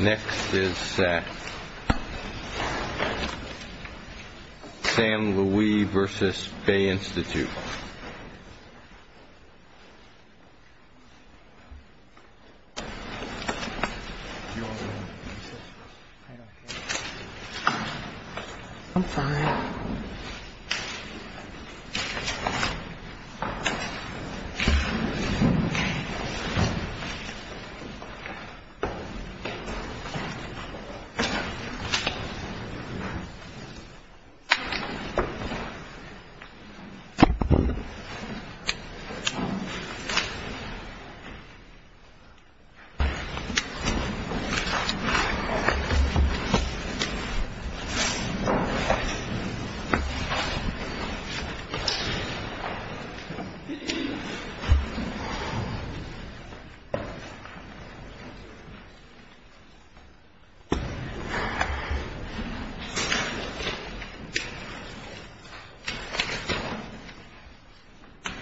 Next is Sam. Sam Louie v. Bay Institute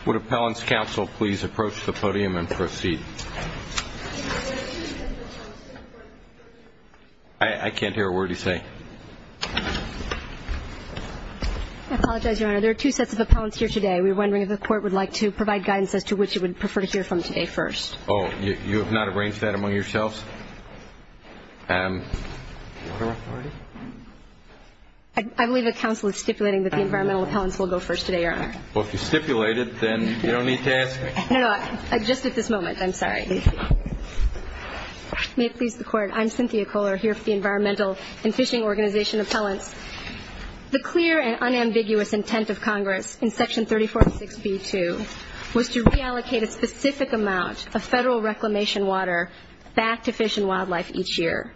Would appellant's counsel please approach the podium and proceed? I can't hear a word you say. I apologize, your honor. There are two sets of appellants here today. We were wondering if the court would like to provide guidance as to which it would prefer to hear from today first. Oh, you have not arranged that among yourselves? I believe the counsel is stipulating that the environmental appellants will go first today, your honor. Well, if you stipulate it, then you don't need to ask me. No, no, just at this moment. I'm sorry. May it please the court, I'm Cynthia Kohler, here for the Environmental and Fishing Organization Appellants. The clear and unambiguous intent of Congress in Section 346B2 was to reallocate a specific amount of federal reclamation water back to fish and wildlife each year,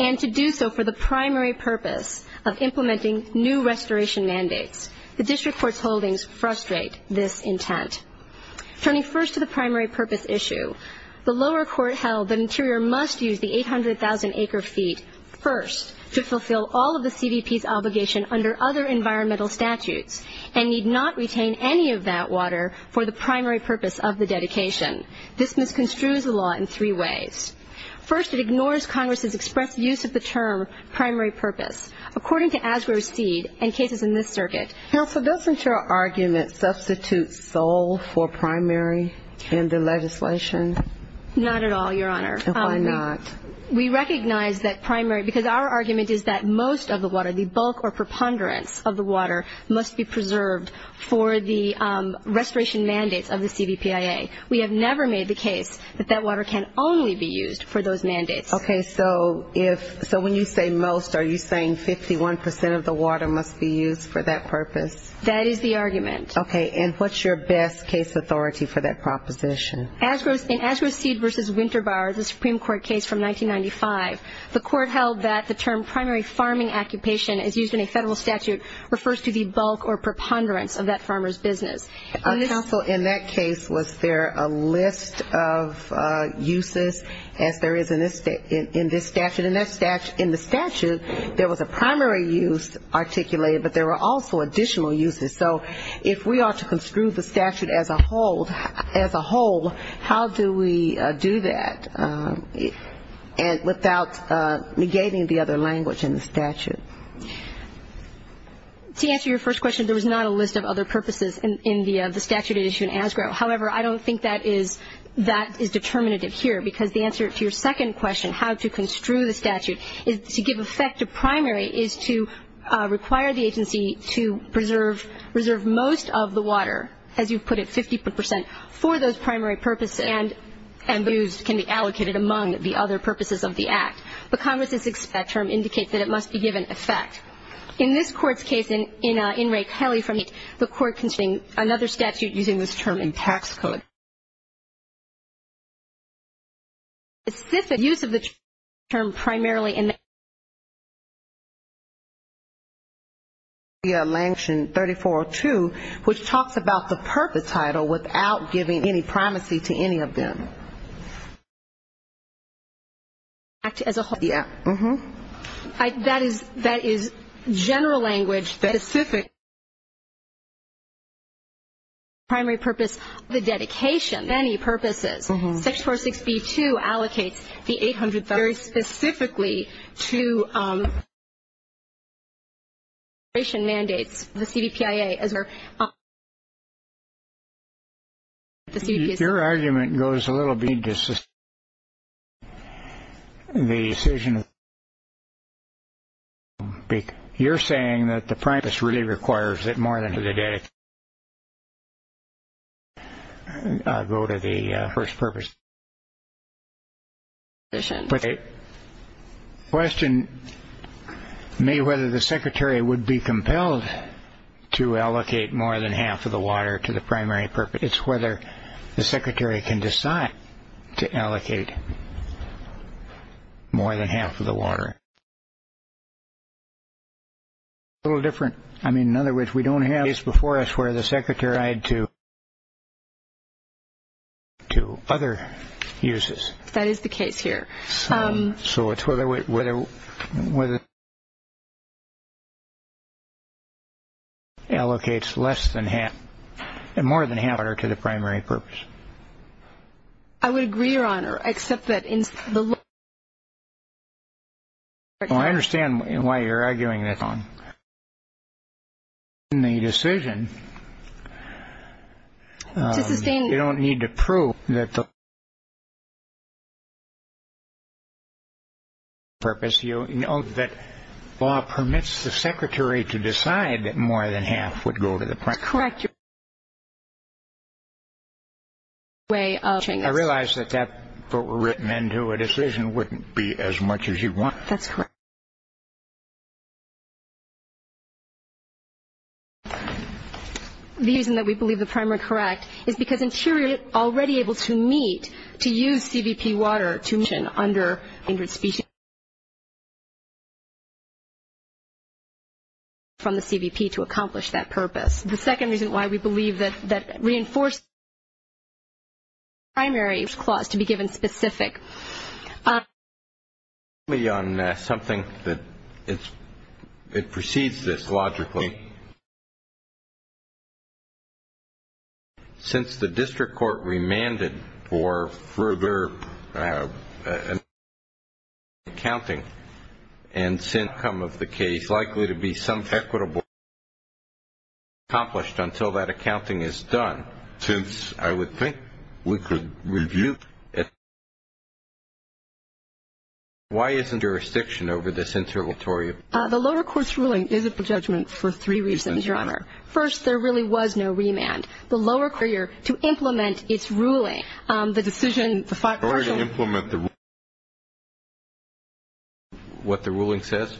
and to do so for the primary purpose of implementing new restoration mandates. The district court's holdings frustrate this intent. Turning first to the primary purpose issue, the lower court held that Interior must use the 800,000 acre feet first to fulfill all of the CDP's obligation under other environmental statutes, and need not retain any of that water for the primary purpose of the dedication. This misconstrues the law in three ways. First, it ignores Congress's expressed use of the term primary purpose. According to Asgrove's seed and cases in this circuit. Counsel, doesn't your argument substitute sole for primary in the legislation? Not at all, your honor. Why not? We recognize that primary, because our argument is that most of the water, the bulk or preponderance of the water, must be preserved for the restoration mandates of the CVPIA. We have never made the case that that water can only be used for those mandates. Okay, so when you say most, are you saying 51% of the water must be used for that purpose? That is the argument. Okay, and what's your best case authority for that proposition? In Asgrove's seed versus Winter Bar, the Supreme Court case from 1995, the court held that the term primary farming occupation as used in a federal statute refers to the bulk or preponderance of that farmer's business. Counsel, in that case, was there a list of uses as there is in this statute? In the statute, there was a primary use articulated, but there were also additional uses. So if we are to construe the statute as a whole, how do we do that without negating the other language in the statute? To answer your first question, there was not a list of other purposes in the statute at issue in Asgrove. However, I don't think that is determinative here, because the answer to your second question, how to construe the statute, is to give effect to primary, is to require the agency to preserve most of the water, as you put it, 50%, for those primary purposes, and the use can be allocated among the other purposes of the Act. But Congress's expect term indicates that it must be given effect. In this Court's case, in Ray Kelly, the Court constrained another statute using this term in tax code. The specific use of the term primarily in the Act, which is in Section 34.02, which talks about the purpose title without giving any primacy to any of them. Act as a whole. Yes. That is general language that is specific to the primary purpose of the dedication. For many purposes. Section 4.6.b.2 allocates the 800, very specifically, to the dedication mandates. The CBPIA is there. Your argument goes a little bit into the decision. You're saying that the primary purpose really requires that more than to the dedication. I'll go to the first purpose. But the question may be whether the Secretary would be compelled to allocate more than half of the water to the primary purpose. It's whether the Secretary can decide to allocate more than half of the water. A little different. I mean, in other words, we don't have a case before us where the Secretary had to allocate to other uses. That is the case here. So it's whether allocates less than half and more than half of the water to the primary purpose. I would agree, Your Honor, except that in the law. Well, I understand why you're arguing that. But in the decision, you don't need to prove that the primary purpose. You know that law permits the Secretary to decide that more than half would go to the primary purpose. That's correct. I realize that that written into a decision wouldn't be as much as you want. That's correct. The reason that we believe the primary correct is because insurers are already able to meet, to use CVP water to mission under a standard specialty. So we don't have to allocate more than half of the water from the CVP to accomplish that purpose. The second reason why we believe that reinforcing the primary clause to be given specific. Let me comment briefly on something that precedes this logically. Since the district court remanded for further accounting, and since the outcome of the case is likely to be somewhat equitable, it is not accomplished until that accounting is done. Since I would think we could review it. Why isn't jurisdiction over this interventory? The lower court's ruling is a judgment for three reasons, Your Honor. First, there really was no remand. The lower courier, to implement its ruling, the decision. What the ruling says?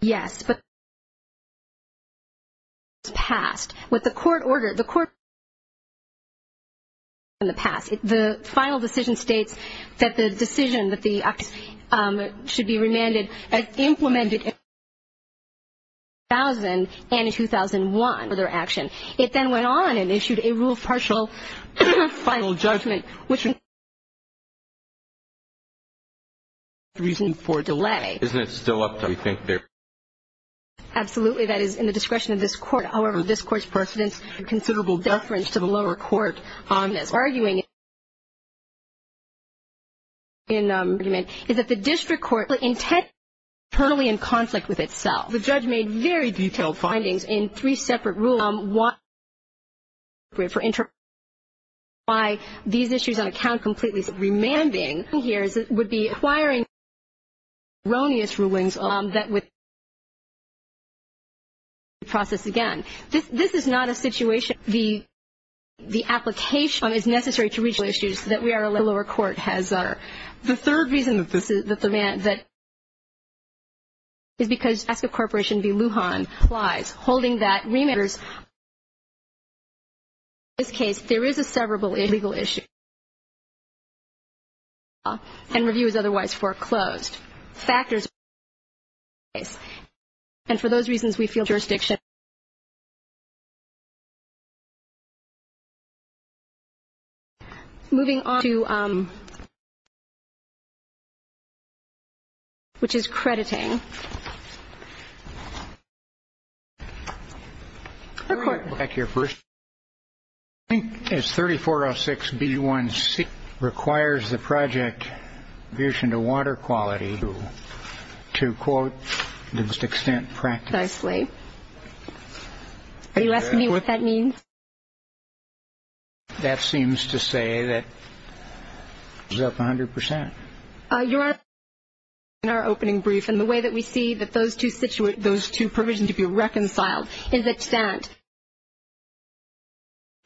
Yes. In the past. The final decision states that the decision that the act should be remanded, implemented in 2000 and in 2001 for further action. It then went on and issued a rule of partial final judgment, which is a reason for delay. Isn't it still up there? Absolutely. That is in the discretion of this court. However, this court's precedent is a considerable deference to the lower court on this. Arguing in the argument is that the district court is internally in conflict with itself. The judge made very detailed findings in three separate rulings on why these issues on account of completely remanding would be acquiring erroneous rulings that would process again. This is not a situation. The application is necessary to reach the issues that we are aware the lower court has. The third reason that this is the demand that is because ask a corporation to be Lujan applies, holding that remanders. In this case, there is a severable legal issue. And review is otherwise foreclosed. Factors. And for those reasons, we feel jurisdiction. Moving on to which is crediting. The court. Thank you. First, I think it's thirty four or six. B one C requires the project vision to water quality to to quote the best extent practice. Nicely. You asked me what that means. That seems to say that is up one hundred percent. You are in our opening brief. And the way that we see that those two situate those two provision to be reconciled is that stand.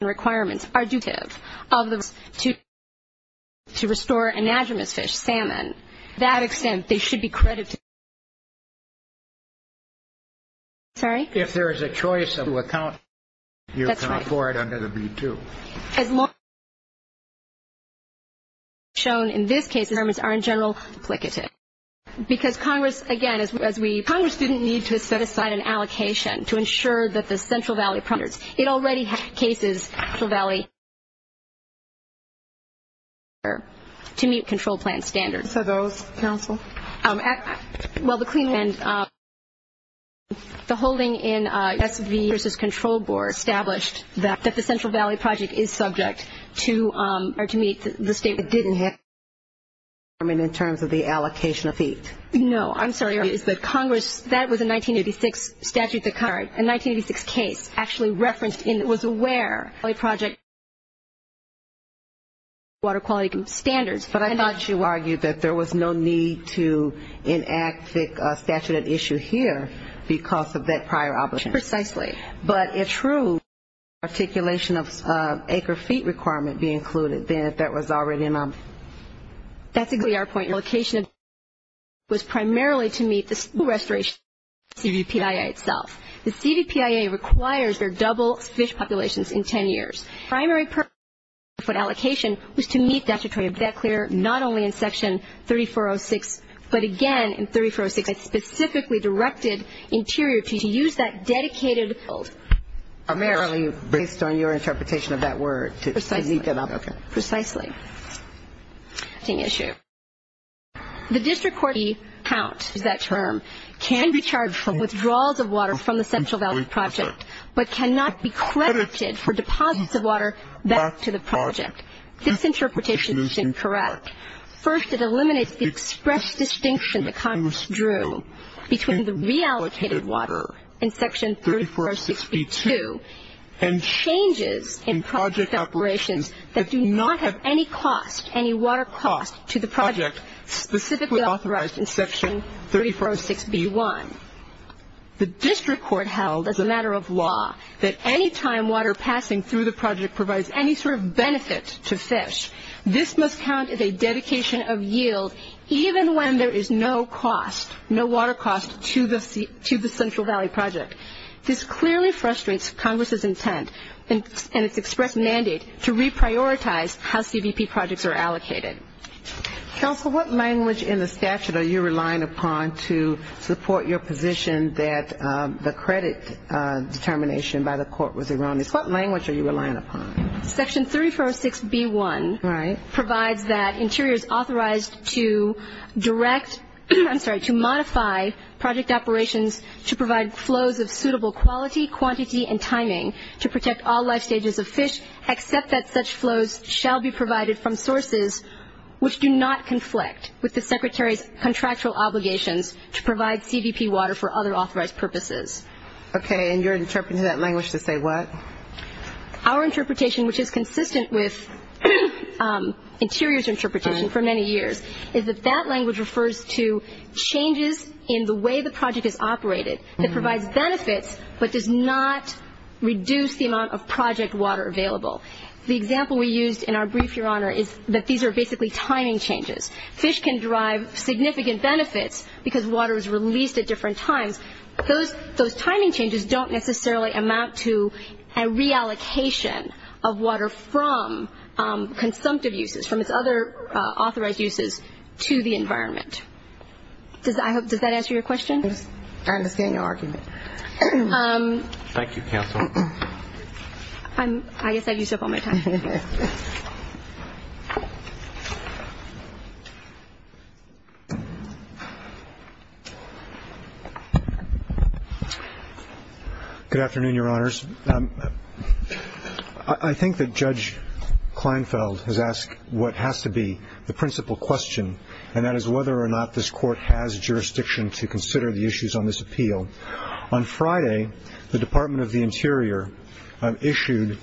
Requirements are dutif of those two. To restore an agonist fish salmon. That extent, they should be credited. Sorry. If there is a choice of account, you can afford under the B two. As long. Shown in this case. Terms are in general. Because Congress, again, as we Congress didn't need to set aside an allocation to ensure that the Central Valley. It already had cases for Valley. To meet control plan standards. So those counsel. Well, the clean end. The holding in S.V. versus control board established that the Central Valley project is subject to or to meet the state. It didn't have. I mean, in terms of the allocation of feet. No, I'm sorry. Is that Congress? That was a 1986 statute. The card in 1986 case actually referenced in was aware a project. Water quality standards. But I thought you argued that there was no need to enact the statute of issue here because of that prior obligation. Precisely. But it's true. Articulation of acre feet requirement be included. Then if that was already in. That's exactly our point. Your location. Was primarily to meet the school restoration C.V.P.A. itself. The C.V.P.A. requires their double fish populations in ten years. The primary purpose of foot allocation was to meet statutory debt clear not only in section 3406, but again in 3406 it specifically directed interior to use that dedicated. Primarily based on your interpretation of that word. Precisely. Okay. Precisely. The district courty count is that term, can be charged for withdrawals of water from the Central Valley project, but cannot be credited for deposits of water back to the project. This interpretation is incorrect. First, it eliminates the express distinction that Congress drew between the reallocated water in section 3406B2 and changes in project operations that do not have any cost, any water cost to the project specifically authorized in section 3406B1. The district court held as a matter of law that any time water passing through the project provides any sort of benefit to fish, this must count as a dedication of yield even when there is no cost, no water cost to the Central Valley project. This clearly frustrates Congress' intent and its express mandate to reprioritize how C.V.P.A. projects are allocated. Counsel, what language in the statute are you relying upon to support your position that the credit determination by the court was erroneous? What language are you relying upon? Section 3406B1 provides that interiors authorized to direct to modify project operations to provide flows of suitable quality, quantity, and timing to protect all life stages of fish, except that such flows shall be provided from sources which do not conflict with the Secretary's contractual obligations to provide C.V.P. water for other authorized purposes. Okay, and you're interpreting that language to say what? Our interpretation, which is consistent with Interior's interpretation for many years, is that that language refers to changes in the way the project is operated that provides benefits but does not reduce the amount of project water available. The example we used in our brief, Your Honor, is that these are basically timing changes. Fish can derive significant benefits because water is released at different times. Those timing changes don't necessarily amount to a reallocation of water from consumptive uses, from its other authorized uses, to the environment. Does that answer your question? I understand your argument. Thank you, Counsel. I guess I used up all my time. Good afternoon, Your Honors. I think that Judge Kleinfeld has asked what has to be the principal question, and that is whether or not this Court has jurisdiction to consider the issues on this appeal. On Friday, the Department of the Interior issued,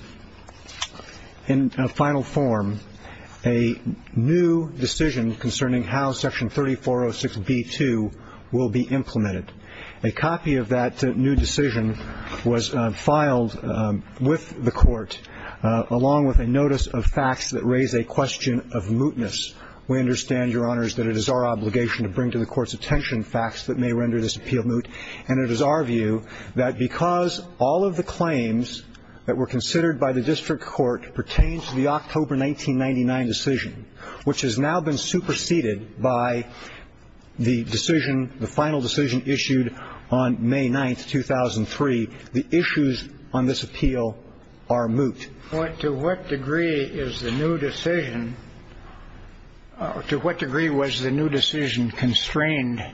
in final form, a new decision concerning how Section 3406b-2 will be implemented. A copy of that new decision was filed with the Court, along with a notice of facts that raise a question of mootness. We understand, Your Honors, that it is our obligation to bring to the Court's attention facts that may render this appeal moot. And it is our view that because all of the claims that were considered by the district court pertain to the October 1999 decision, which has now been superseded by the decision, the final decision issued on May 9th, 2003, the issues on this appeal are moot. To what degree was the new decision constrained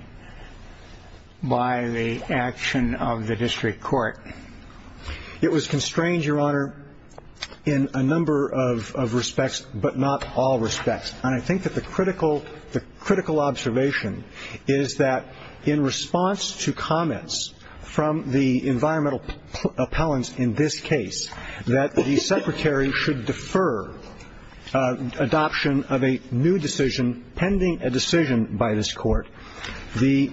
by the action of the district court? It was constrained, Your Honor, in a number of respects, but not all respects. And I think that the critical observation is that in response to comments from the environmental appellants in this case, that the Secretary should defer adoption of a new decision pending a decision by this Court, the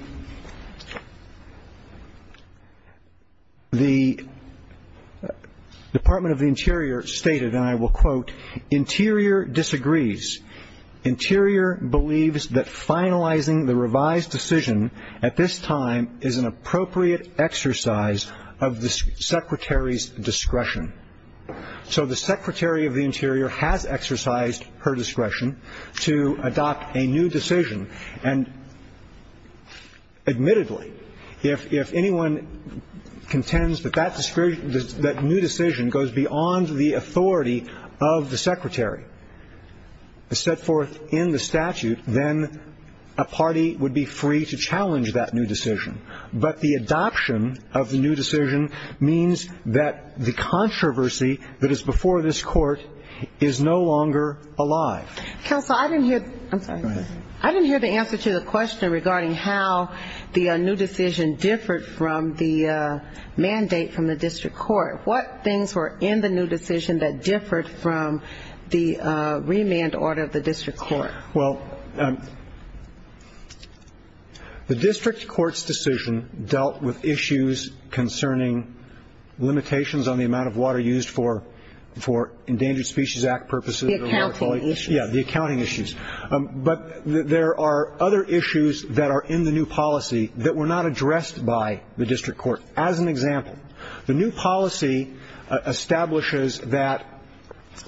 Department of the Interior stated, and I will quote, Interior disagrees. Interior believes that finalizing the revised decision at this time is an appropriate exercise of the Secretary's discretion. So the Secretary of the Interior has exercised her discretion to adopt a new decision. And admittedly, if anyone contends that that new decision goes beyond the authority of the Secretary to set forth in the statute, then a party would be free to challenge that new decision. But the adoption of the new decision means that the controversy that is before this Court is no longer alive. Counsel, I didn't hear the answer to the question regarding how the new decision differed from the mandate from the district court. What things were in the new decision that differed from the remand order of the district court? Well, the district court's decision dealt with issues concerning limitations on the amount of water used for Endangered Species Act purposes. The accounting issues. Yeah, the accounting issues. But there are other issues that are in the new policy that were not addressed by the district court. As an example, the new policy establishes that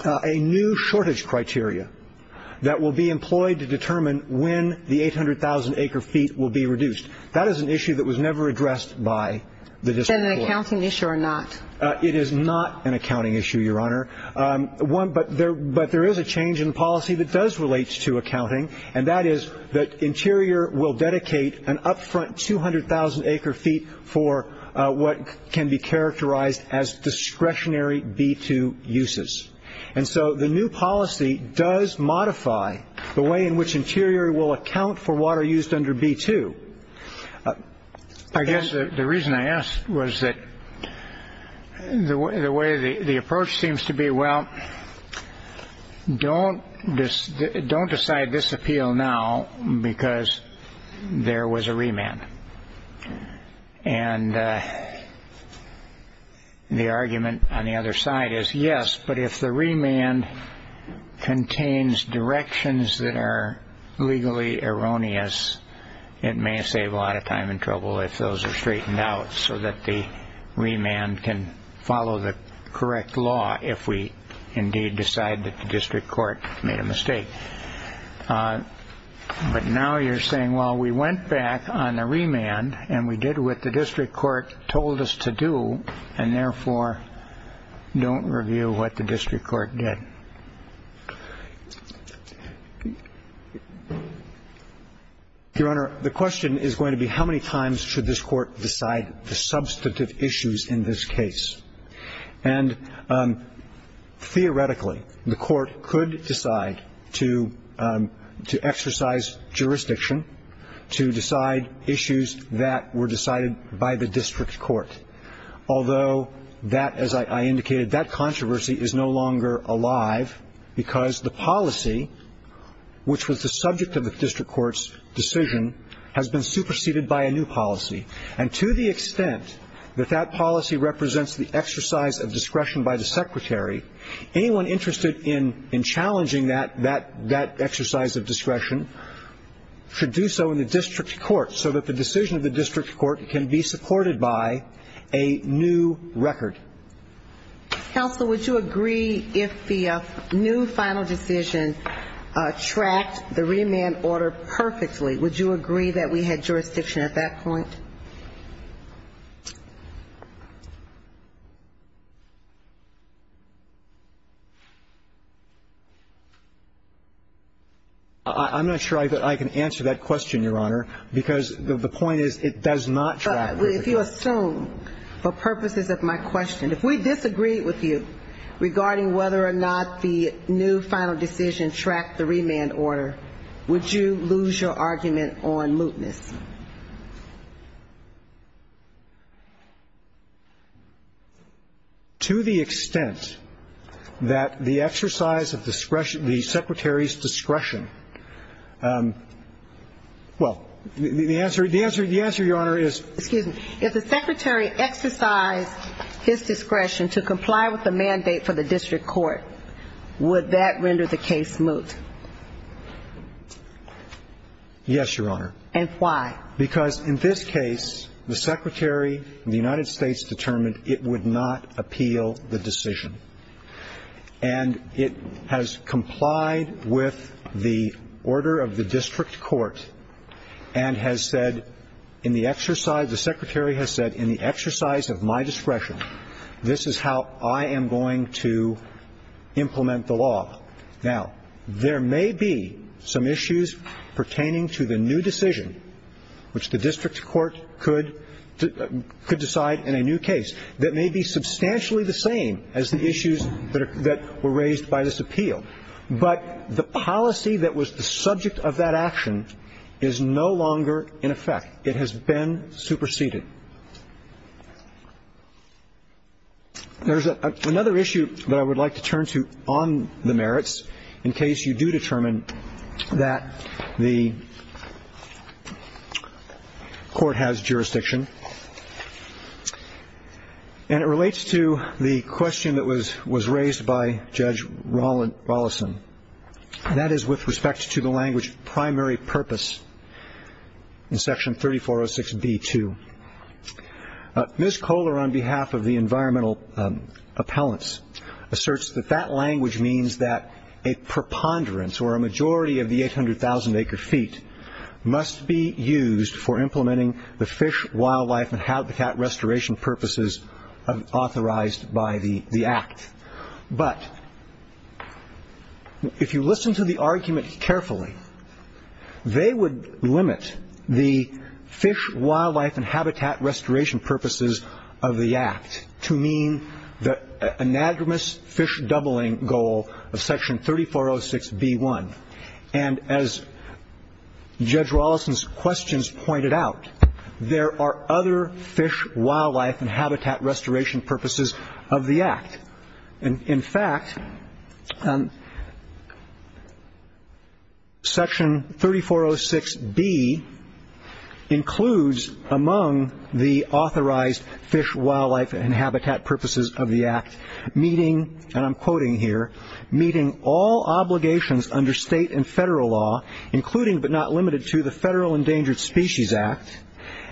a new shortage criteria that will be employed to determine when the 800,000 acre feet will be reduced, that is an issue that was never addressed by the district court. Is that an accounting issue or not? It is not an accounting issue, Your Honor. But there is a change in policy that does relate to accounting, and that is that Interior will dedicate an upfront 200,000 acre feet for what can be characterized as discretionary B-2 uses. And so the new policy does modify the way in which Interior will account for water used under B-2. I guess the reason I asked was that the way the approach seems to be, well, don't decide this appeal now because there was a remand. And the argument on the other side is, yes, but if the remand contains directions that are legally erroneous, it may save a lot of time and trouble if those are straightened out so that the remand can follow the correct law if we indeed decide that the district court made a mistake. But now you're saying, well, we went back on the remand and we did what the district court told us to do, and therefore don't review what the district court did. Your Honor, the question is going to be, how many times should this court decide the substantive issues in this case? And theoretically, the court could decide to exercise jurisdiction to decide issues that were decided by the district court, although that, as I indicated, that controversy is no longer alive because the policy, which was the subject of the district court's decision, has been superseded by a new policy. And to the extent that that policy represents the exercise of discretion by the secretary, anyone interested in challenging that exercise of discretion should do so in the district court so that the decision of the district court can be supported by a new record. Counsel, would you agree if the new final decision tracked the remand order perfectly, would you agree that we had jurisdiction at that point? I'm not sure I can answer that question, Your Honor, because the point is it does not track. But if you assume, for purposes of my question, if we disagree with you regarding whether or not the new final decision tracked the remand order, would you lose your argument on mootness? To the extent that the exercise of discretion, the secretary's discretion, well, the answer, Your Honor, is. Excuse me. If the secretary exercised his discretion to comply with the mandate for the district court, would that render the case moot? Yes, Your Honor. And why? Because in this case, the secretary and the United States determined it would not appeal the decision. And it has complied with the order of the district court and has said in the exercise, the secretary has said in the exercise of my discretion, this is how I am going to implement the law. Now, there may be some issues pertaining to the new decision, which the district court could decide in a new case, that may be substantially the same as the issues that were raised by this appeal. But the policy that was the subject of that action is no longer in effect. It has been superseded. There's another issue that I would like to turn to on the merits, in case you do determine that the court has jurisdiction. And it relates to the question that was raised by Judge Rollison, and that is with respect to the language of primary purpose in Section 3406b-2. Ms. Kohler, on behalf of the environmental appellants, asserts that that language means that a preponderance or a majority of the 800,000 acre feet must be used for implementing the fish, wildlife, and habitat restoration purposes authorized by the Act. But if you listen to the argument carefully, they would limit the fish, wildlife, and habitat restoration purposes of the Act to mean the anagramous fish doubling goal of Section 3406b-1. And as Judge Rollison's questions pointed out, there are other fish, wildlife, and habitat restoration purposes of the Act and, in fact, Section 3406b includes among the authorized fish, wildlife, and habitat purposes of the Act, meeting, and I'm quoting here, meeting all obligations under state and federal law, including but not limited to, the Federal Endangered Species Act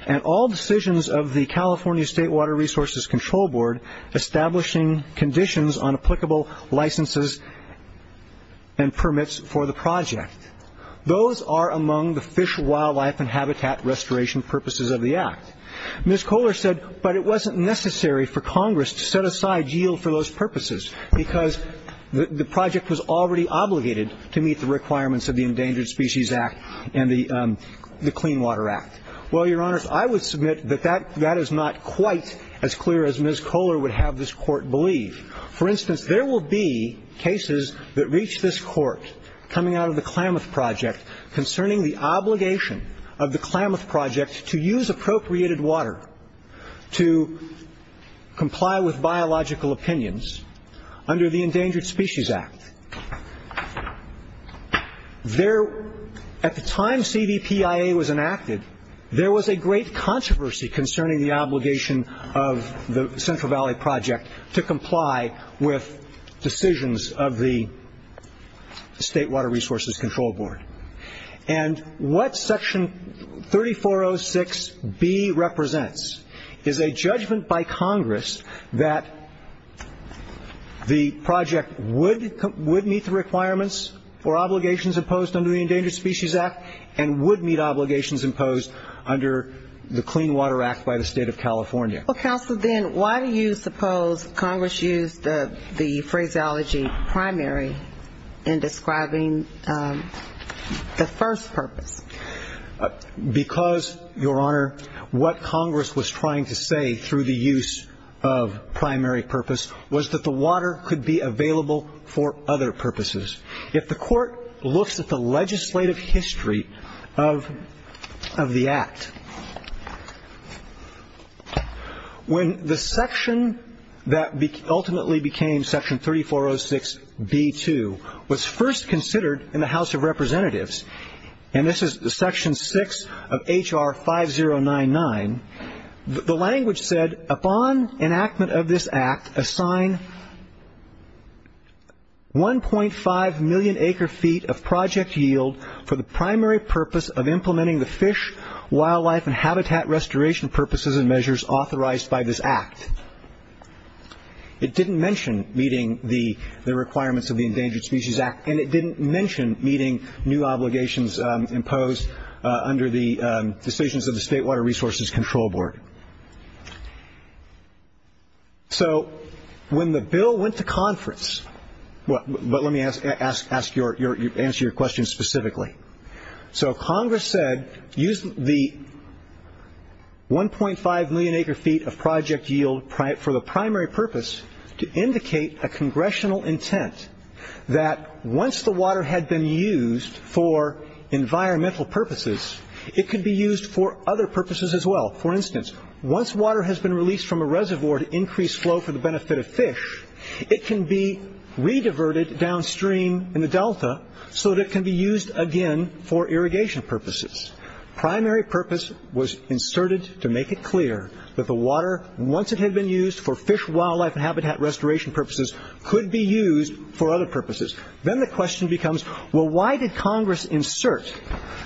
and all decisions of the California State Water Resources Control Board establishing conditions on applicable licenses and permits for the project. Those are among the fish, wildlife, and habitat restoration purposes of the Act. Ms. Kohler said, but it wasn't necessary for Congress to set aside yield for those purposes because the project was already obligated to meet the requirements of the Endangered Species Act and the Clean Water Act. Well, Your Honors, I would submit that that is not quite as clear as Ms. Kohler would have this Court believe. For instance, there will be cases that reach this Court coming out of the Klamath Project concerning the obligation of the Klamath Project to use appropriated water to comply with biological opinions under the Endangered Species Act. At the time CVPIA was enacted, there was a great controversy concerning the obligation of the Central Valley Project to comply with decisions of the State Water Resources Control Board. And what Section 3406B represents is a judgment by Congress that the project would meet the requirements for obligations imposed under the Endangered Species Act and would meet obligations imposed under the Clean Water Act by the State of California. Well, Counsel, then why do you suppose Congress used the phraseology primary in describing the first purpose? Because, Your Honor, what Congress was trying to say through the use of primary purpose was that the water could be available for other purposes. If the Court looks at the legislative history of the Act, when the section that ultimately became Section 3406B2 was first considered in the House of Representatives and this is Section 6 of H.R. 5099, the language said, Upon enactment of this Act, assign 1.5 million acre-feet of project yield for the primary purpose of implementing the fish, wildlife, and habitat restoration purposes and measures authorized by this Act. It didn't mention meeting the requirements of the Endangered Species Act and it didn't mention meeting new obligations imposed under the decisions of the State Water Resources Control Board. So when the bill went to conference, but let me answer your question specifically. So Congress said, Use the 1.5 million acre-feet of project yield for the primary purpose to indicate a congressional intent that once the water had been used for environmental purposes, it could be used for other purposes as well. For instance, once water has been released from a reservoir to increase flow for the benefit of fish, it can be re-diverted downstream in the delta so that it can be used again for irrigation purposes. Primary purpose was inserted to make it clear that the water, once it had been used for fish, wildlife, and habitat restoration purposes, could be used for other purposes. Then the question becomes, well, why did Congress insert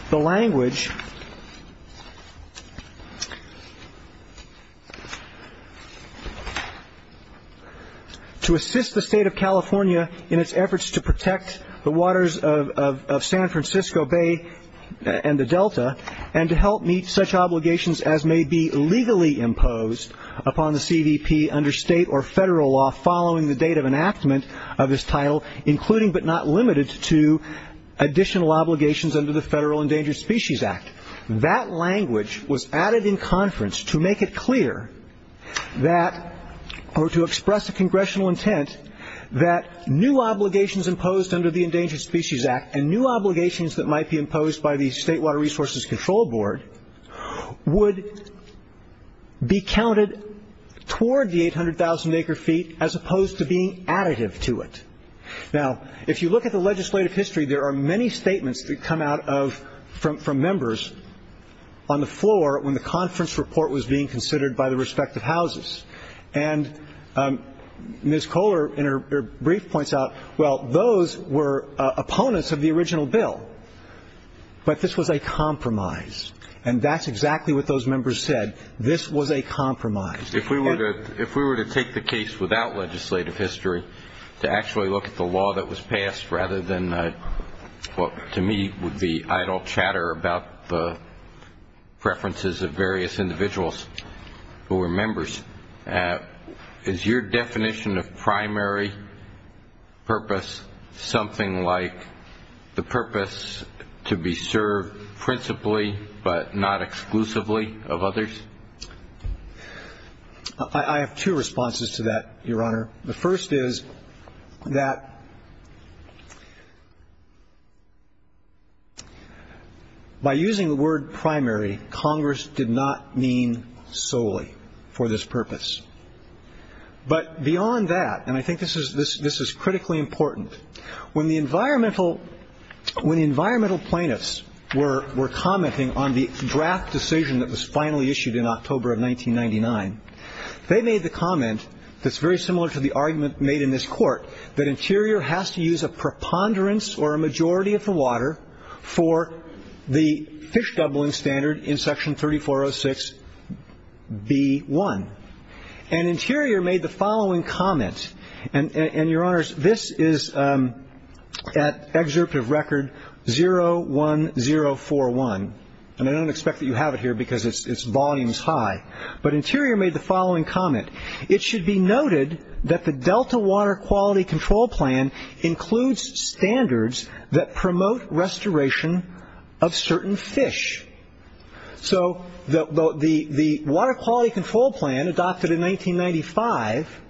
the language to assist the State of California in its efforts to protect the waters of San Francisco Bay and the delta and to help meet such obligations as may be legally imposed upon the CVP under state or federal law following the date of enactment of this title, including but not limited to additional obligations under the Federal Endangered Species Act. That language was added in conference to make it clear that, or to express a congressional intent, that new obligations imposed under the Endangered Species Act and new obligations that might be imposed by the State Water Resources Control Board would be counted toward the 800,000 acre feet as opposed to being additive to it. Now, if you look at the legislative history, there are many statements that come out from members on the floor when the conference report was being considered by the respective houses. And Ms. Kohler, in her brief, points out, well, those were opponents of the original bill, but this was a compromise, and that's exactly what those members said. This was a compromise. If we were to take the case without legislative history to actually look at the law that was passed rather than what to me would be idle chatter about the preferences of various individuals who were members, is your definition of primary purpose something like the purpose to be served principally but not exclusively of others? I have two responses to that, Your Honor. The first is that by using the word primary, Congress did not mean solely for this purpose. But beyond that, and I think this is critically important, when the environmental plaintiffs were commenting on the draft decision that was finally issued in October of 1999, they made the comment that's very similar to the argument made in this court, that Interior has to use a preponderance or a majority of the water for the fish doubling standard in Section 3406B1. And Interior made the following comment, and, Your Honors, this is at excerpt of Record 01041, and I don't expect that you have it here because its volume is high, but Interior made the following comment. It should be noted that the Delta Water Quality Control Plan includes standards that promote restoration of certain fish. So the Water Quality Control Plan adopted in 1995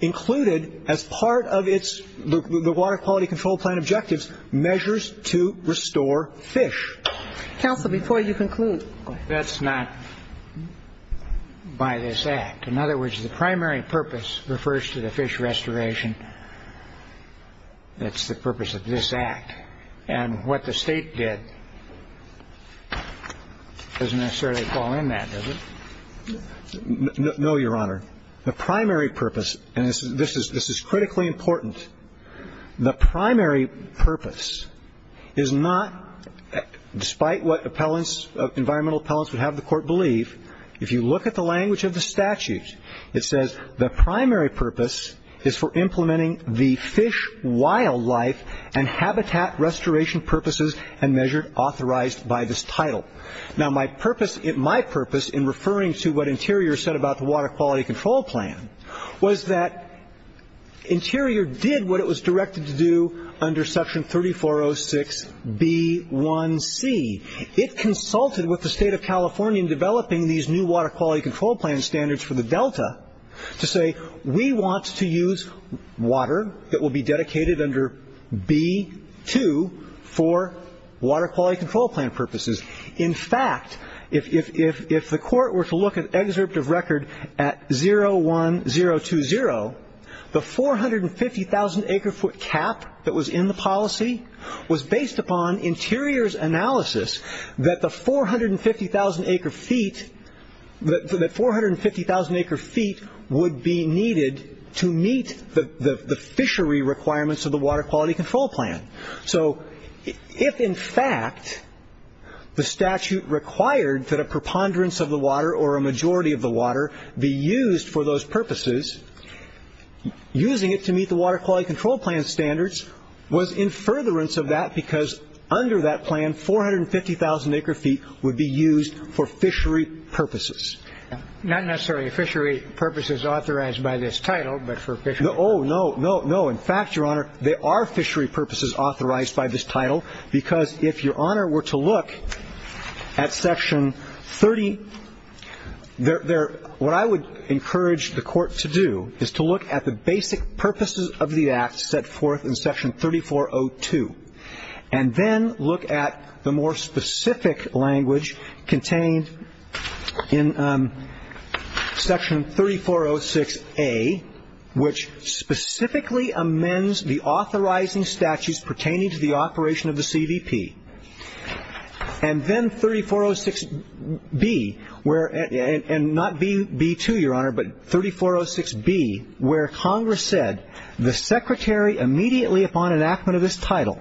included as part of its Water Quality Control Plan objectives measures to restore fish. Counsel, before you conclude. That's not by this Act. In other words, the primary purpose refers to the fish restoration. That's the purpose of this Act. And what the State did doesn't necessarily fall in that, does it? No, Your Honor. The primary purpose, and this is critically important, the primary purpose is not, despite what environmental appellants would have the court believe, if you look at the language of the statute, it says, the primary purpose is for implementing the fish, wildlife, and habitat restoration purposes and measure authorized by this title. Now, my purpose in referring to what Interior said about the Water Quality Control Plan was that Interior did what it was directed to do under Section 3406B1C. It consulted with the State of California in developing these new Water Quality Control Plan standards for the Delta to say we want to use water that will be dedicated under B2 for Water Quality Control Plan purposes. In fact, if the court were to look at excerpt of record at 01020, the 450,000 acre foot cap that was in the policy was based upon Interior's analysis that the 450,000 acre feet would be needed to meet the fishery requirements of the Water Quality Control Plan. So if, in fact, the statute required that a preponderance of the water or a majority of the water be used for those purposes, using it to meet the Water Quality Control Plan standards was in furtherance of that because under that plan 450,000 acre feet would be used for fishery purposes. Not necessarily fishery purposes authorized by this title, but for fishery purposes. Oh, no, no, no. In fact, Your Honor, there are fishery purposes authorized by this title because if Your Honor were to look at Section 30, what I would encourage the court to do is to look at the basic purposes of the act set forth in Section 3402 and then look at the more specific language contained in Section 3406A, which specifically amends the authorizing statutes pertaining to the operation of the CVP. And then 3406B, and not B2, Your Honor, but 3406B, where Congress said, The Secretary, immediately upon enactment of this title,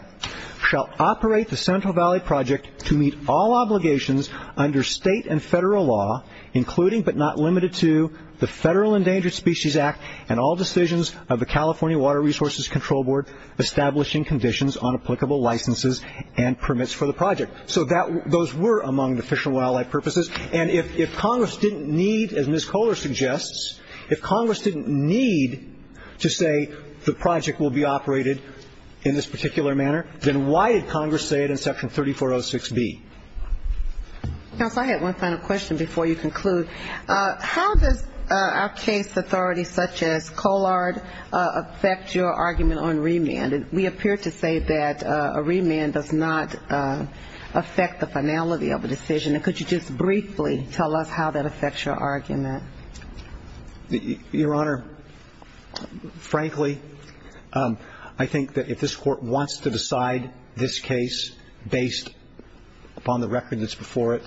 shall operate the Central Valley Project to meet all obligations under state and federal law, including but not limited to the Federal Endangered Species Act and all decisions of the California Water Resources Control Board establishing conditions on applicable licenses and permits for the project. So those were among the fish and wildlife purposes, and if Congress didn't need, as Ms. Kohler suggests, if Congress didn't need to say the project will be operated in this particular manner, then why did Congress say it in Section 3406B? Counsel, I had one final question before you conclude. How does our case authorities such as Kohler affect your argument on remand? We appear to say that a remand does not affect the finality of a decision. Could you just briefly tell us how that affects your argument? Your Honor, frankly, I think that if this Court wants to decide this case based upon the record that's before it,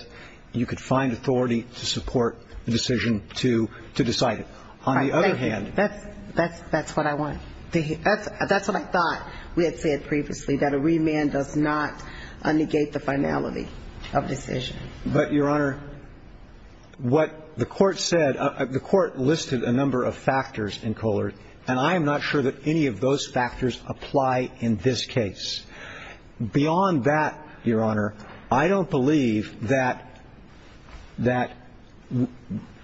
you could find authority to support the decision to decide it. On the other hand ñ That's what I want. That's what I thought we had said previously, that a remand does not negate the finality of decision. But, Your Honor, what the Court said, the Court listed a number of factors in Kohler, and I am not sure that any of those factors apply in this case. Beyond that, Your Honor, I don't believe that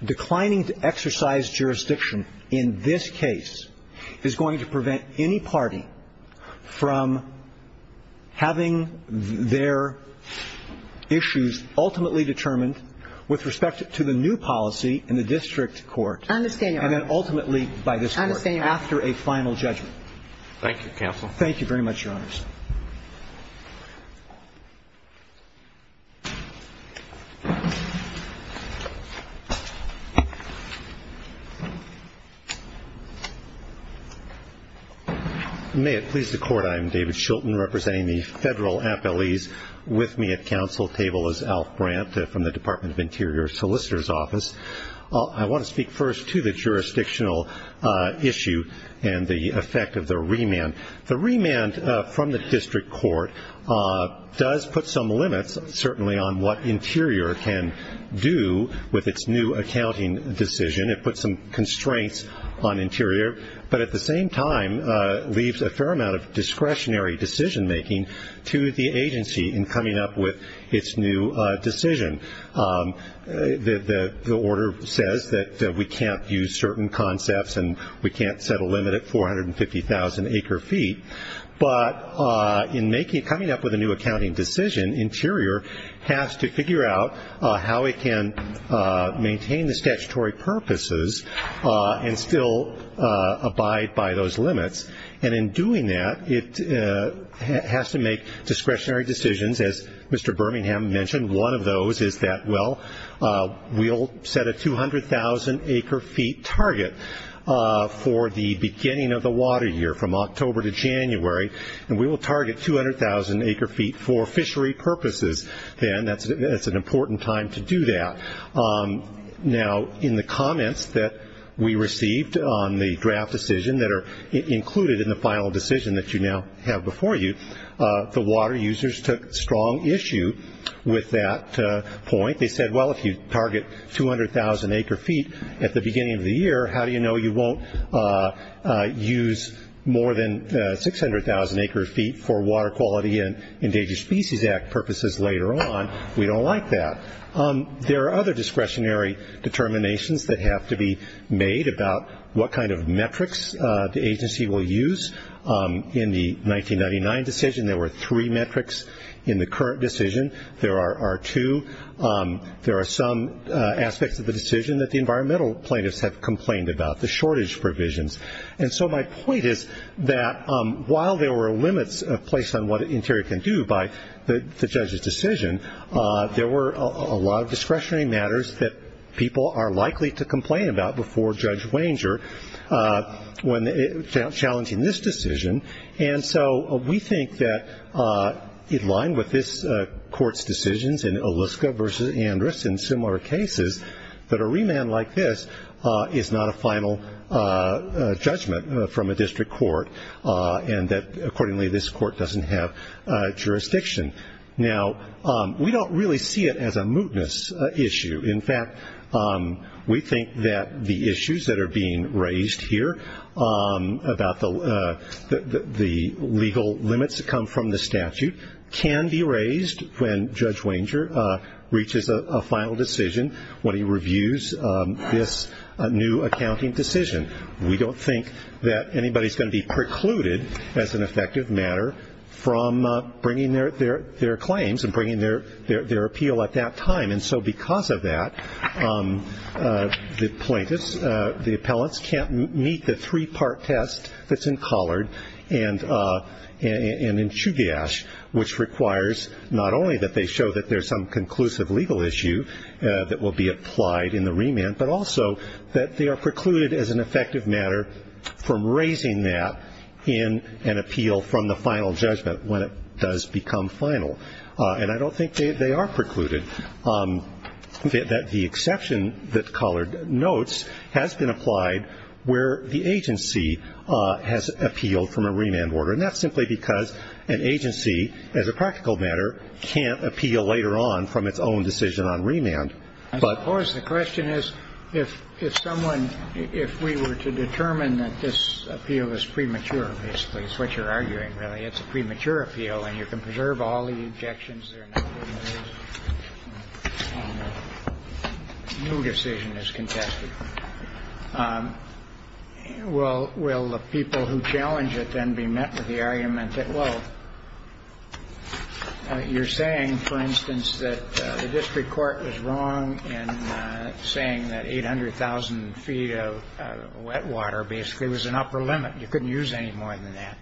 declining to exercise jurisdiction in this case is going to prevent any party from having their issues ultimately determined with respect to the new policy in the district court. I understand, Your Honor. And then ultimately by this Court. I understand, Your Honor. After a final judgment. Thank you, Counsel. Thank you very much, Your Honors. May it please the Court, I am David Shulton, representing the federal appellees. With me at counsel table is Alf Brandt from the Department of Interior Solicitor's Office. I want to speak first to the jurisdictional issue and the effect of the remand. The remand from the district court does put some limits, certainly on what Interior can do with its new accounting decision. It puts some constraints on Interior, but at the same time leaves a fair amount of discretionary decision-making to the agency in coming up with its new decision. The order says that we can't use certain concepts and we can't set a limit at 450,000 acre feet. But in coming up with a new accounting decision, Interior has to figure out how it can maintain the statutory purposes and still abide by those limits. And in doing that, it has to make discretionary decisions. As Mr. Birmingham mentioned, one of those is that, well, we'll set a 200,000 acre feet target for the beginning of the water year from October to January, and we will target 200,000 acre feet for fishery purposes then. That's an important time to do that. Now, in the comments that we received on the draft decision that are included in the final decision that you now have before you, the water users took strong issue with that point. They said, well, if you target 200,000 acre feet at the beginning of the year, how do you know you won't use more than 600,000 acre feet for Water Quality and Endangered Species Act purposes later on? We don't like that. There are other discretionary determinations that have to be made about what kind of metrics the agency will use. In the 1999 decision, there were three metrics. In the current decision, there are two. There are some aspects of the decision that the environmental plaintiffs have complained about, the shortage provisions. And so my point is that while there were limits placed on what Interior can do by the judge's decision, there were a lot of discretionary matters that people are likely to complain about before Judge Wanger when challenging this decision. And so we think that in line with this court's decisions in Oliska versus Andrus and similar cases, that a remand like this is not a final judgment from a district court and that, accordingly, this court doesn't have jurisdiction. Now, we don't really see it as a mootness issue. In fact, we think that the issues that are being raised here about the legal limits that come from the statute can be raised when Judge Wanger reaches a final decision when he reviews this new accounting decision. We don't think that anybody is going to be precluded as an effective matter from bringing their claims and bringing their appeal at that time. And so because of that, the plaintiffs, the appellants, can't meet the three-part test that's in Collard and in Chugach, which requires not only that they show that there's some conclusive legal issue that will be applied in the remand, but also that they are precluded as an effective matter from raising that in an appeal from the final judgment when it does become final. And I don't think they are precluded, that the exception that Collard notes has been applied where the agency has appealed from a remand order. And that's simply because an agency, as a practical matter, can't appeal later on from its own decision on remand. I suppose the question is, if someone, if we were to determine that this appeal is premature, basically, it's what you're arguing, really. It's a premature appeal, and you can preserve all the objections there. No decision is contested. Will the people who challenge it then be met with the argument that, well, you're saying, for instance, that the district court was wrong in saying that 800,000 feet of wet water basically was an upper limit. You couldn't use any more than that.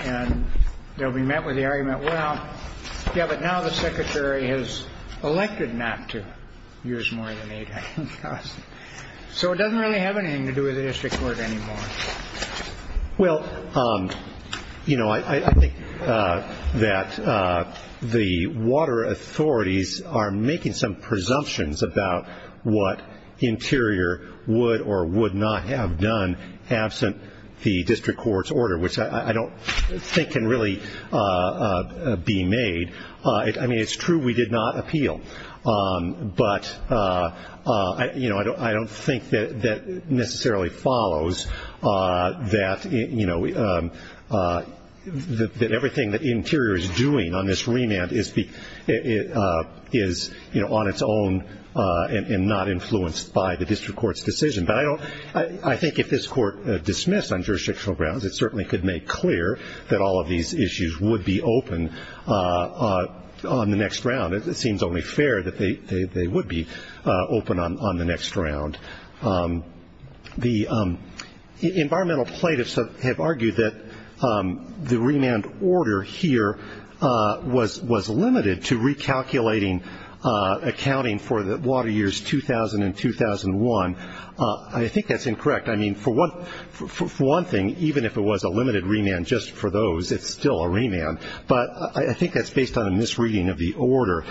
And they'll be met with the argument, well, yeah, but now the secretary has elected not to use more than 800,000. So it doesn't really have anything to do with the district court anymore. Well, you know, I think that the water authorities are making some presumptions about what Interior would or would not have done absent the district court's order, which I don't think can really be made. I mean, it's true we did not appeal. But, you know, I don't think that necessarily follows that, you know, that everything that Interior is doing on this remand is, you know, on its own and not influenced by the district court's decision. But I think if this court dismissed on jurisdictional grounds, it certainly could make clear that all of these issues would be open on the next round. It seems only fair that they would be open on the next round. The environmental plaintiffs have argued that the remand order here was limited to recalculating accounting for the water years 2000 and 2001. I think that's incorrect. I mean, for one thing, even if it was a limited remand just for those, it's still a remand. But I think that's based on a misreading of the order.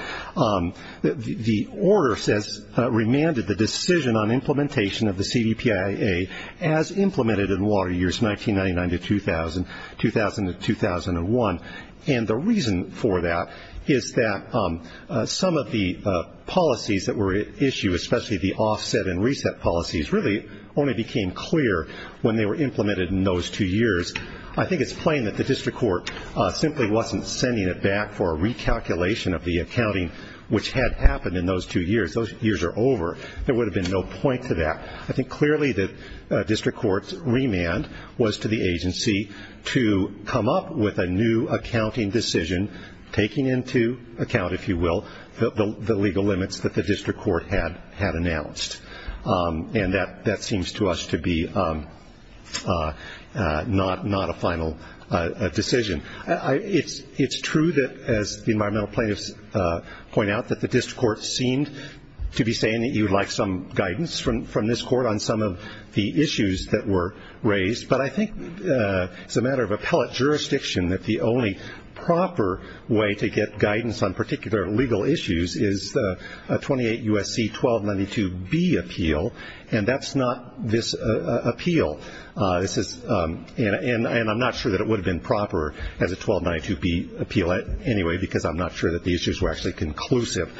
The order says remanded the decision on implementation of the CBPIA as implemented in water years 1999 to 2000, 2000 to 2001. And the reason for that is that some of the policies that were at issue, especially the offset and reset policies, really only became clear when they were implemented in those two years. I think it's plain that the district court simply wasn't sending it back for a recalculation of the accounting, which had happened in those two years. Those years are over. There would have been no point to that. I think clearly the district court's remand was to the agency to come up with a new accounting decision, taking into account, if you will, the legal limits that the district court had announced. And that seems to us to be not a final decision. It's true that, as the environmental plaintiffs point out, that the district court seemed to be saying that you would like some guidance from this court on some of the issues that were raised. But I think it's a matter of appellate jurisdiction that the only proper way to get guidance on particular legal issues is a 28 U.S.C. 1292B appeal, and that's not this appeal. And I'm not sure that it would have been proper as a 1292B appeal anyway, because I'm not sure that the issues were actually conclusive.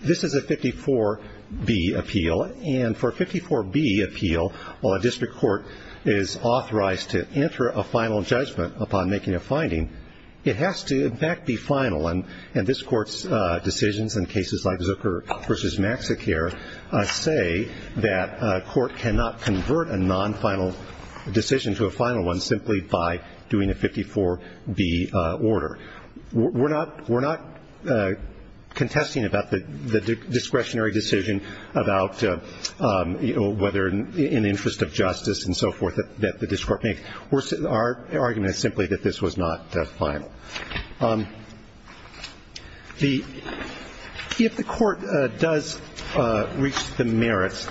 This is a 54B appeal, and for a 54B appeal, while a district court is authorized to enter a final judgment upon making a finding, it has to, in fact, be final. And this court's decisions in cases like Zucker v. Maxicare say that a court cannot convert a non-final decision to a final one simply by doing a 54B order. We're not contesting about the discretionary decision about, you know, whether in the interest of justice and so forth that the district court made. Our argument is simply that this was not final. If the court does reach the merits,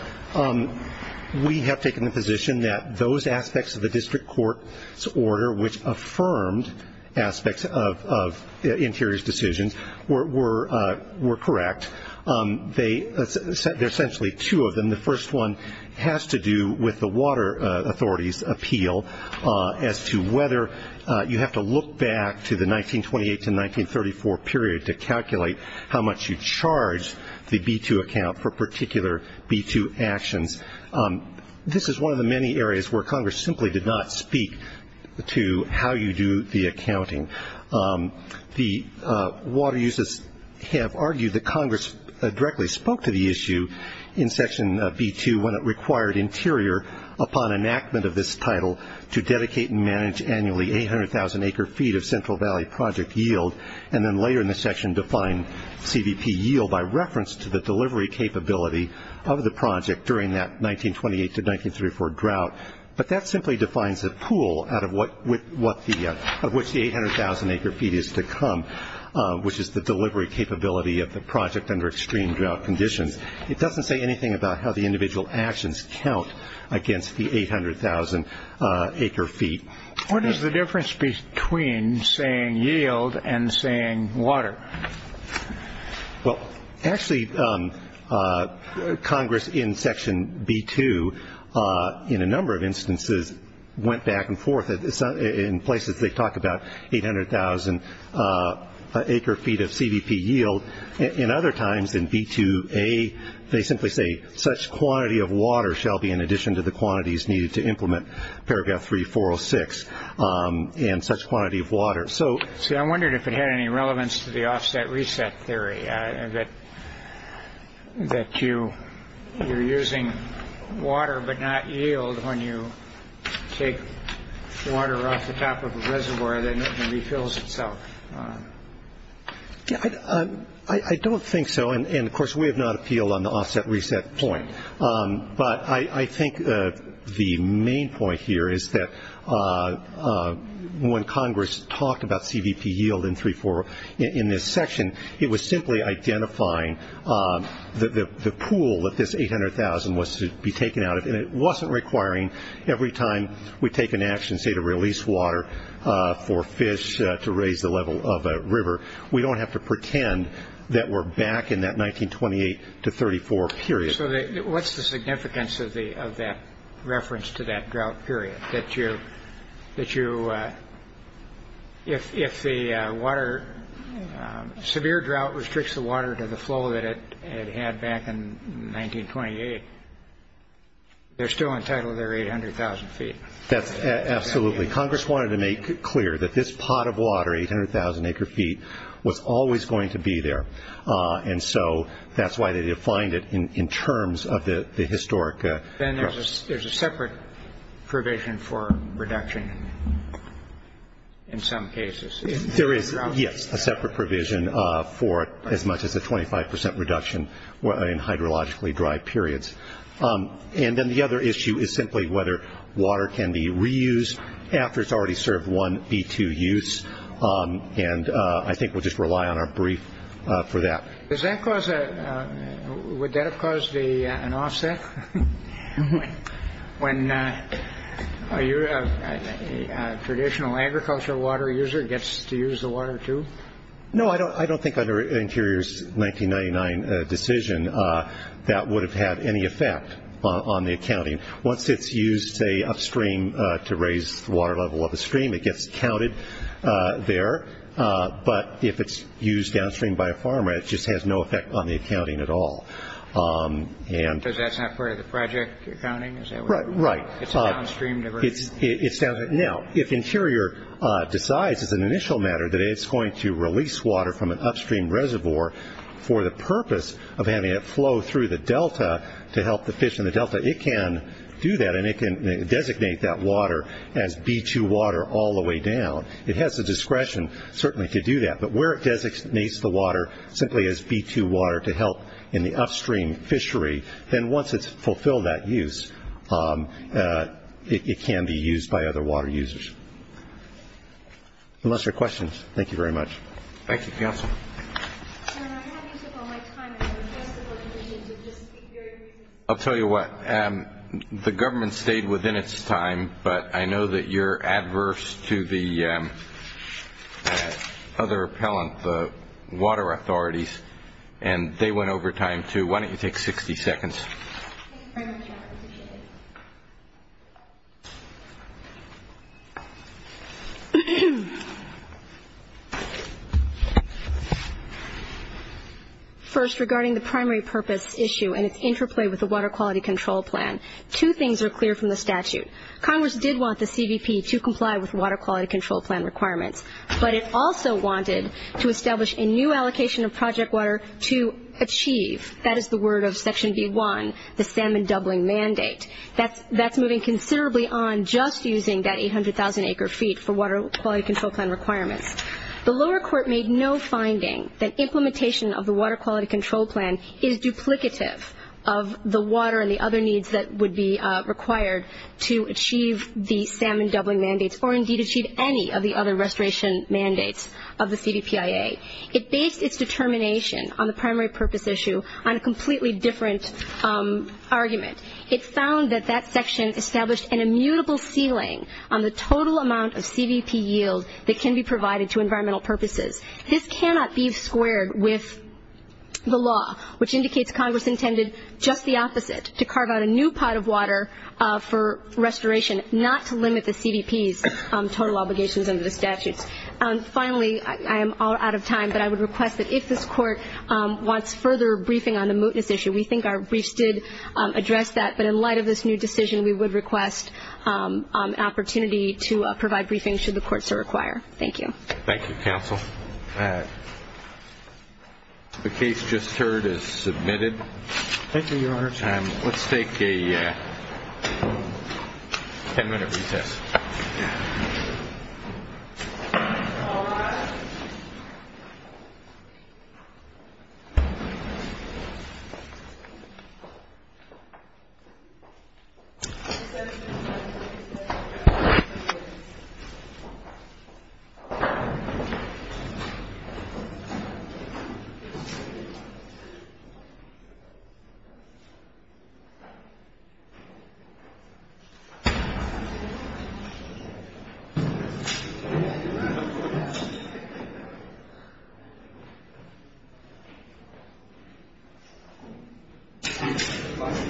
we have taken the position that those aspects of the district court's order, which affirmed aspects of interior's decisions, were correct. There are essentially two of them. The first one has to do with the water authority's appeal as to whether you have to look back to the 1928 to 1934 period to calculate how much you charge the B-2 account for particular B-2 actions. This is one of the many areas where Congress simply did not speak to how you do the accounting. The water users have argued that Congress directly spoke to the issue in Section B-2 when it required Interior, upon enactment of this title, to dedicate and manage annually 800,000 acre feet of Central Valley project yield and then later in the section define CVP yield by reference to the delivery capability of the project during that 1928 to 1934 drought. But that simply defines the pool out of which the 800,000 acre feet is to come, which is the delivery capability of the project under extreme drought conditions. It doesn't say anything about how the individual actions count against the 800,000 acre feet. What is the difference between saying yield and saying water? Well, actually, Congress in Section B-2 in a number of instances went back and forth. In places they talk about 800,000 acre feet of CVP yield. In other times in B-2A, they simply say such quantity of water shall be in addition to the quantities needed to implement Paragraph 3406 and such quantity of water. See, I wondered if it had any relevance to the offset reset theory, that you're using water but not yield when you take water off the top of a reservoir that refills itself. I don't think so. And, of course, we have not appealed on the offset reset point. But I think the main point here is that when Congress talked about CVP yield in this section, it was simply identifying the pool that this 800,000 was to be taken out of. And it wasn't requiring every time we take an action, say, to release water for fish to raise the level of a river, we don't have to pretend that we're back in that 1928 to 1934 period. So what's the significance of that reference to that drought period? If severe drought restricts the water to the flow that it had back in 1928, they're still entitled to their 800,000 feet. Absolutely. Congress wanted to make it clear that this pot of water, 800,000 acre feet, was always going to be there. And so that's why they defined it in terms of the historic. Then there's a separate provision for reduction in some cases. There is, yes, a separate provision for as much as a 25 percent reduction in hydrologically dry periods. And then the other issue is simply whether water can be reused after it's already served one B2 use. And I think we'll just rely on our brief for that. Would that have caused an offset when a traditional agricultural water user gets to use the water too? No, I don't think under Interior's 1999 decision that would have had any effect on the accounting. Once it's used, say, upstream to raise the water level of a stream, it gets counted there. But if it's used downstream by a farmer, it just has no effect on the accounting at all. So that's not part of the project accounting? Right. It's a downstream diversion? It's downstream. Now, if Interior decides as an initial matter that it's going to release water from an upstream reservoir for the purpose of having it flow through the delta to help the fish in the delta, it can do that and it can designate that water as B2 water all the way down. It has the discretion, certainly, to do that. But where it designates the water simply as B2 water to help in the upstream fishery, then once it's fulfilled that use, it can be used by other water users. Unless there are questions. Thank you very much. Thank you, Council. I have used up all my time. I'll tell you what. The government stayed within its time, but I know that you're adverse to the other appellant, the water authorities, and they went over time, too. Why don't you take 60 seconds? Thank you very much. I appreciate it. First, regarding the primary purpose issue and its interplay with the Water Quality Control Plan, two things are clear from the statute. Congress did want the CVP to comply with Water Quality Control Plan requirements, but it also wanted to establish a new allocation of project water to achieve. That is the word of Section B1, the salmon doubling mandate. That's moving considerably on just using that 800,000 acre feet for Water Quality Control Plan requirements. The lower court made no finding that implementation of the Water Quality Control Plan is duplicative of the water and the other needs that would be required to achieve the salmon doubling mandates, or indeed achieve any of the other restoration mandates of the CVPIA. It based its determination on the primary purpose issue on a completely different argument. It found that that section established an immutable ceiling on the total amount of CVP yield that can be provided to environmental purposes. This cannot be squared with the law, which indicates Congress intended just the opposite, to carve out a new pot of water for restoration, not to limit the CVP's total obligations under the statutes. Finally, I am all out of time, but I would request that if this court wants further briefing on the mootness issue, we think our briefs did address that, but in light of this new decision we would request an opportunity to provide briefings should the courts so require. Thank you. Thank you, Counsel. The case just heard is submitted. Thank you, Your Honor. Let's take a ten-minute recess. Thank you. Thank you. Thank you. You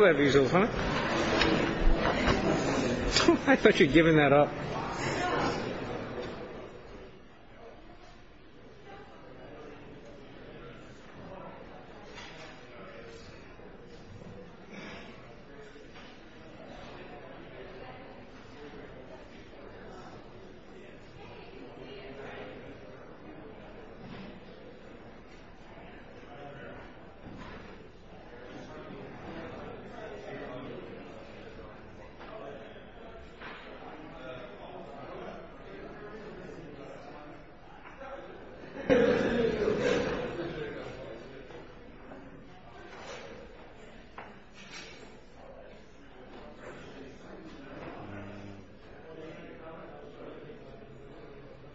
do have easels, huh? I thought you were giving that up. Thank you.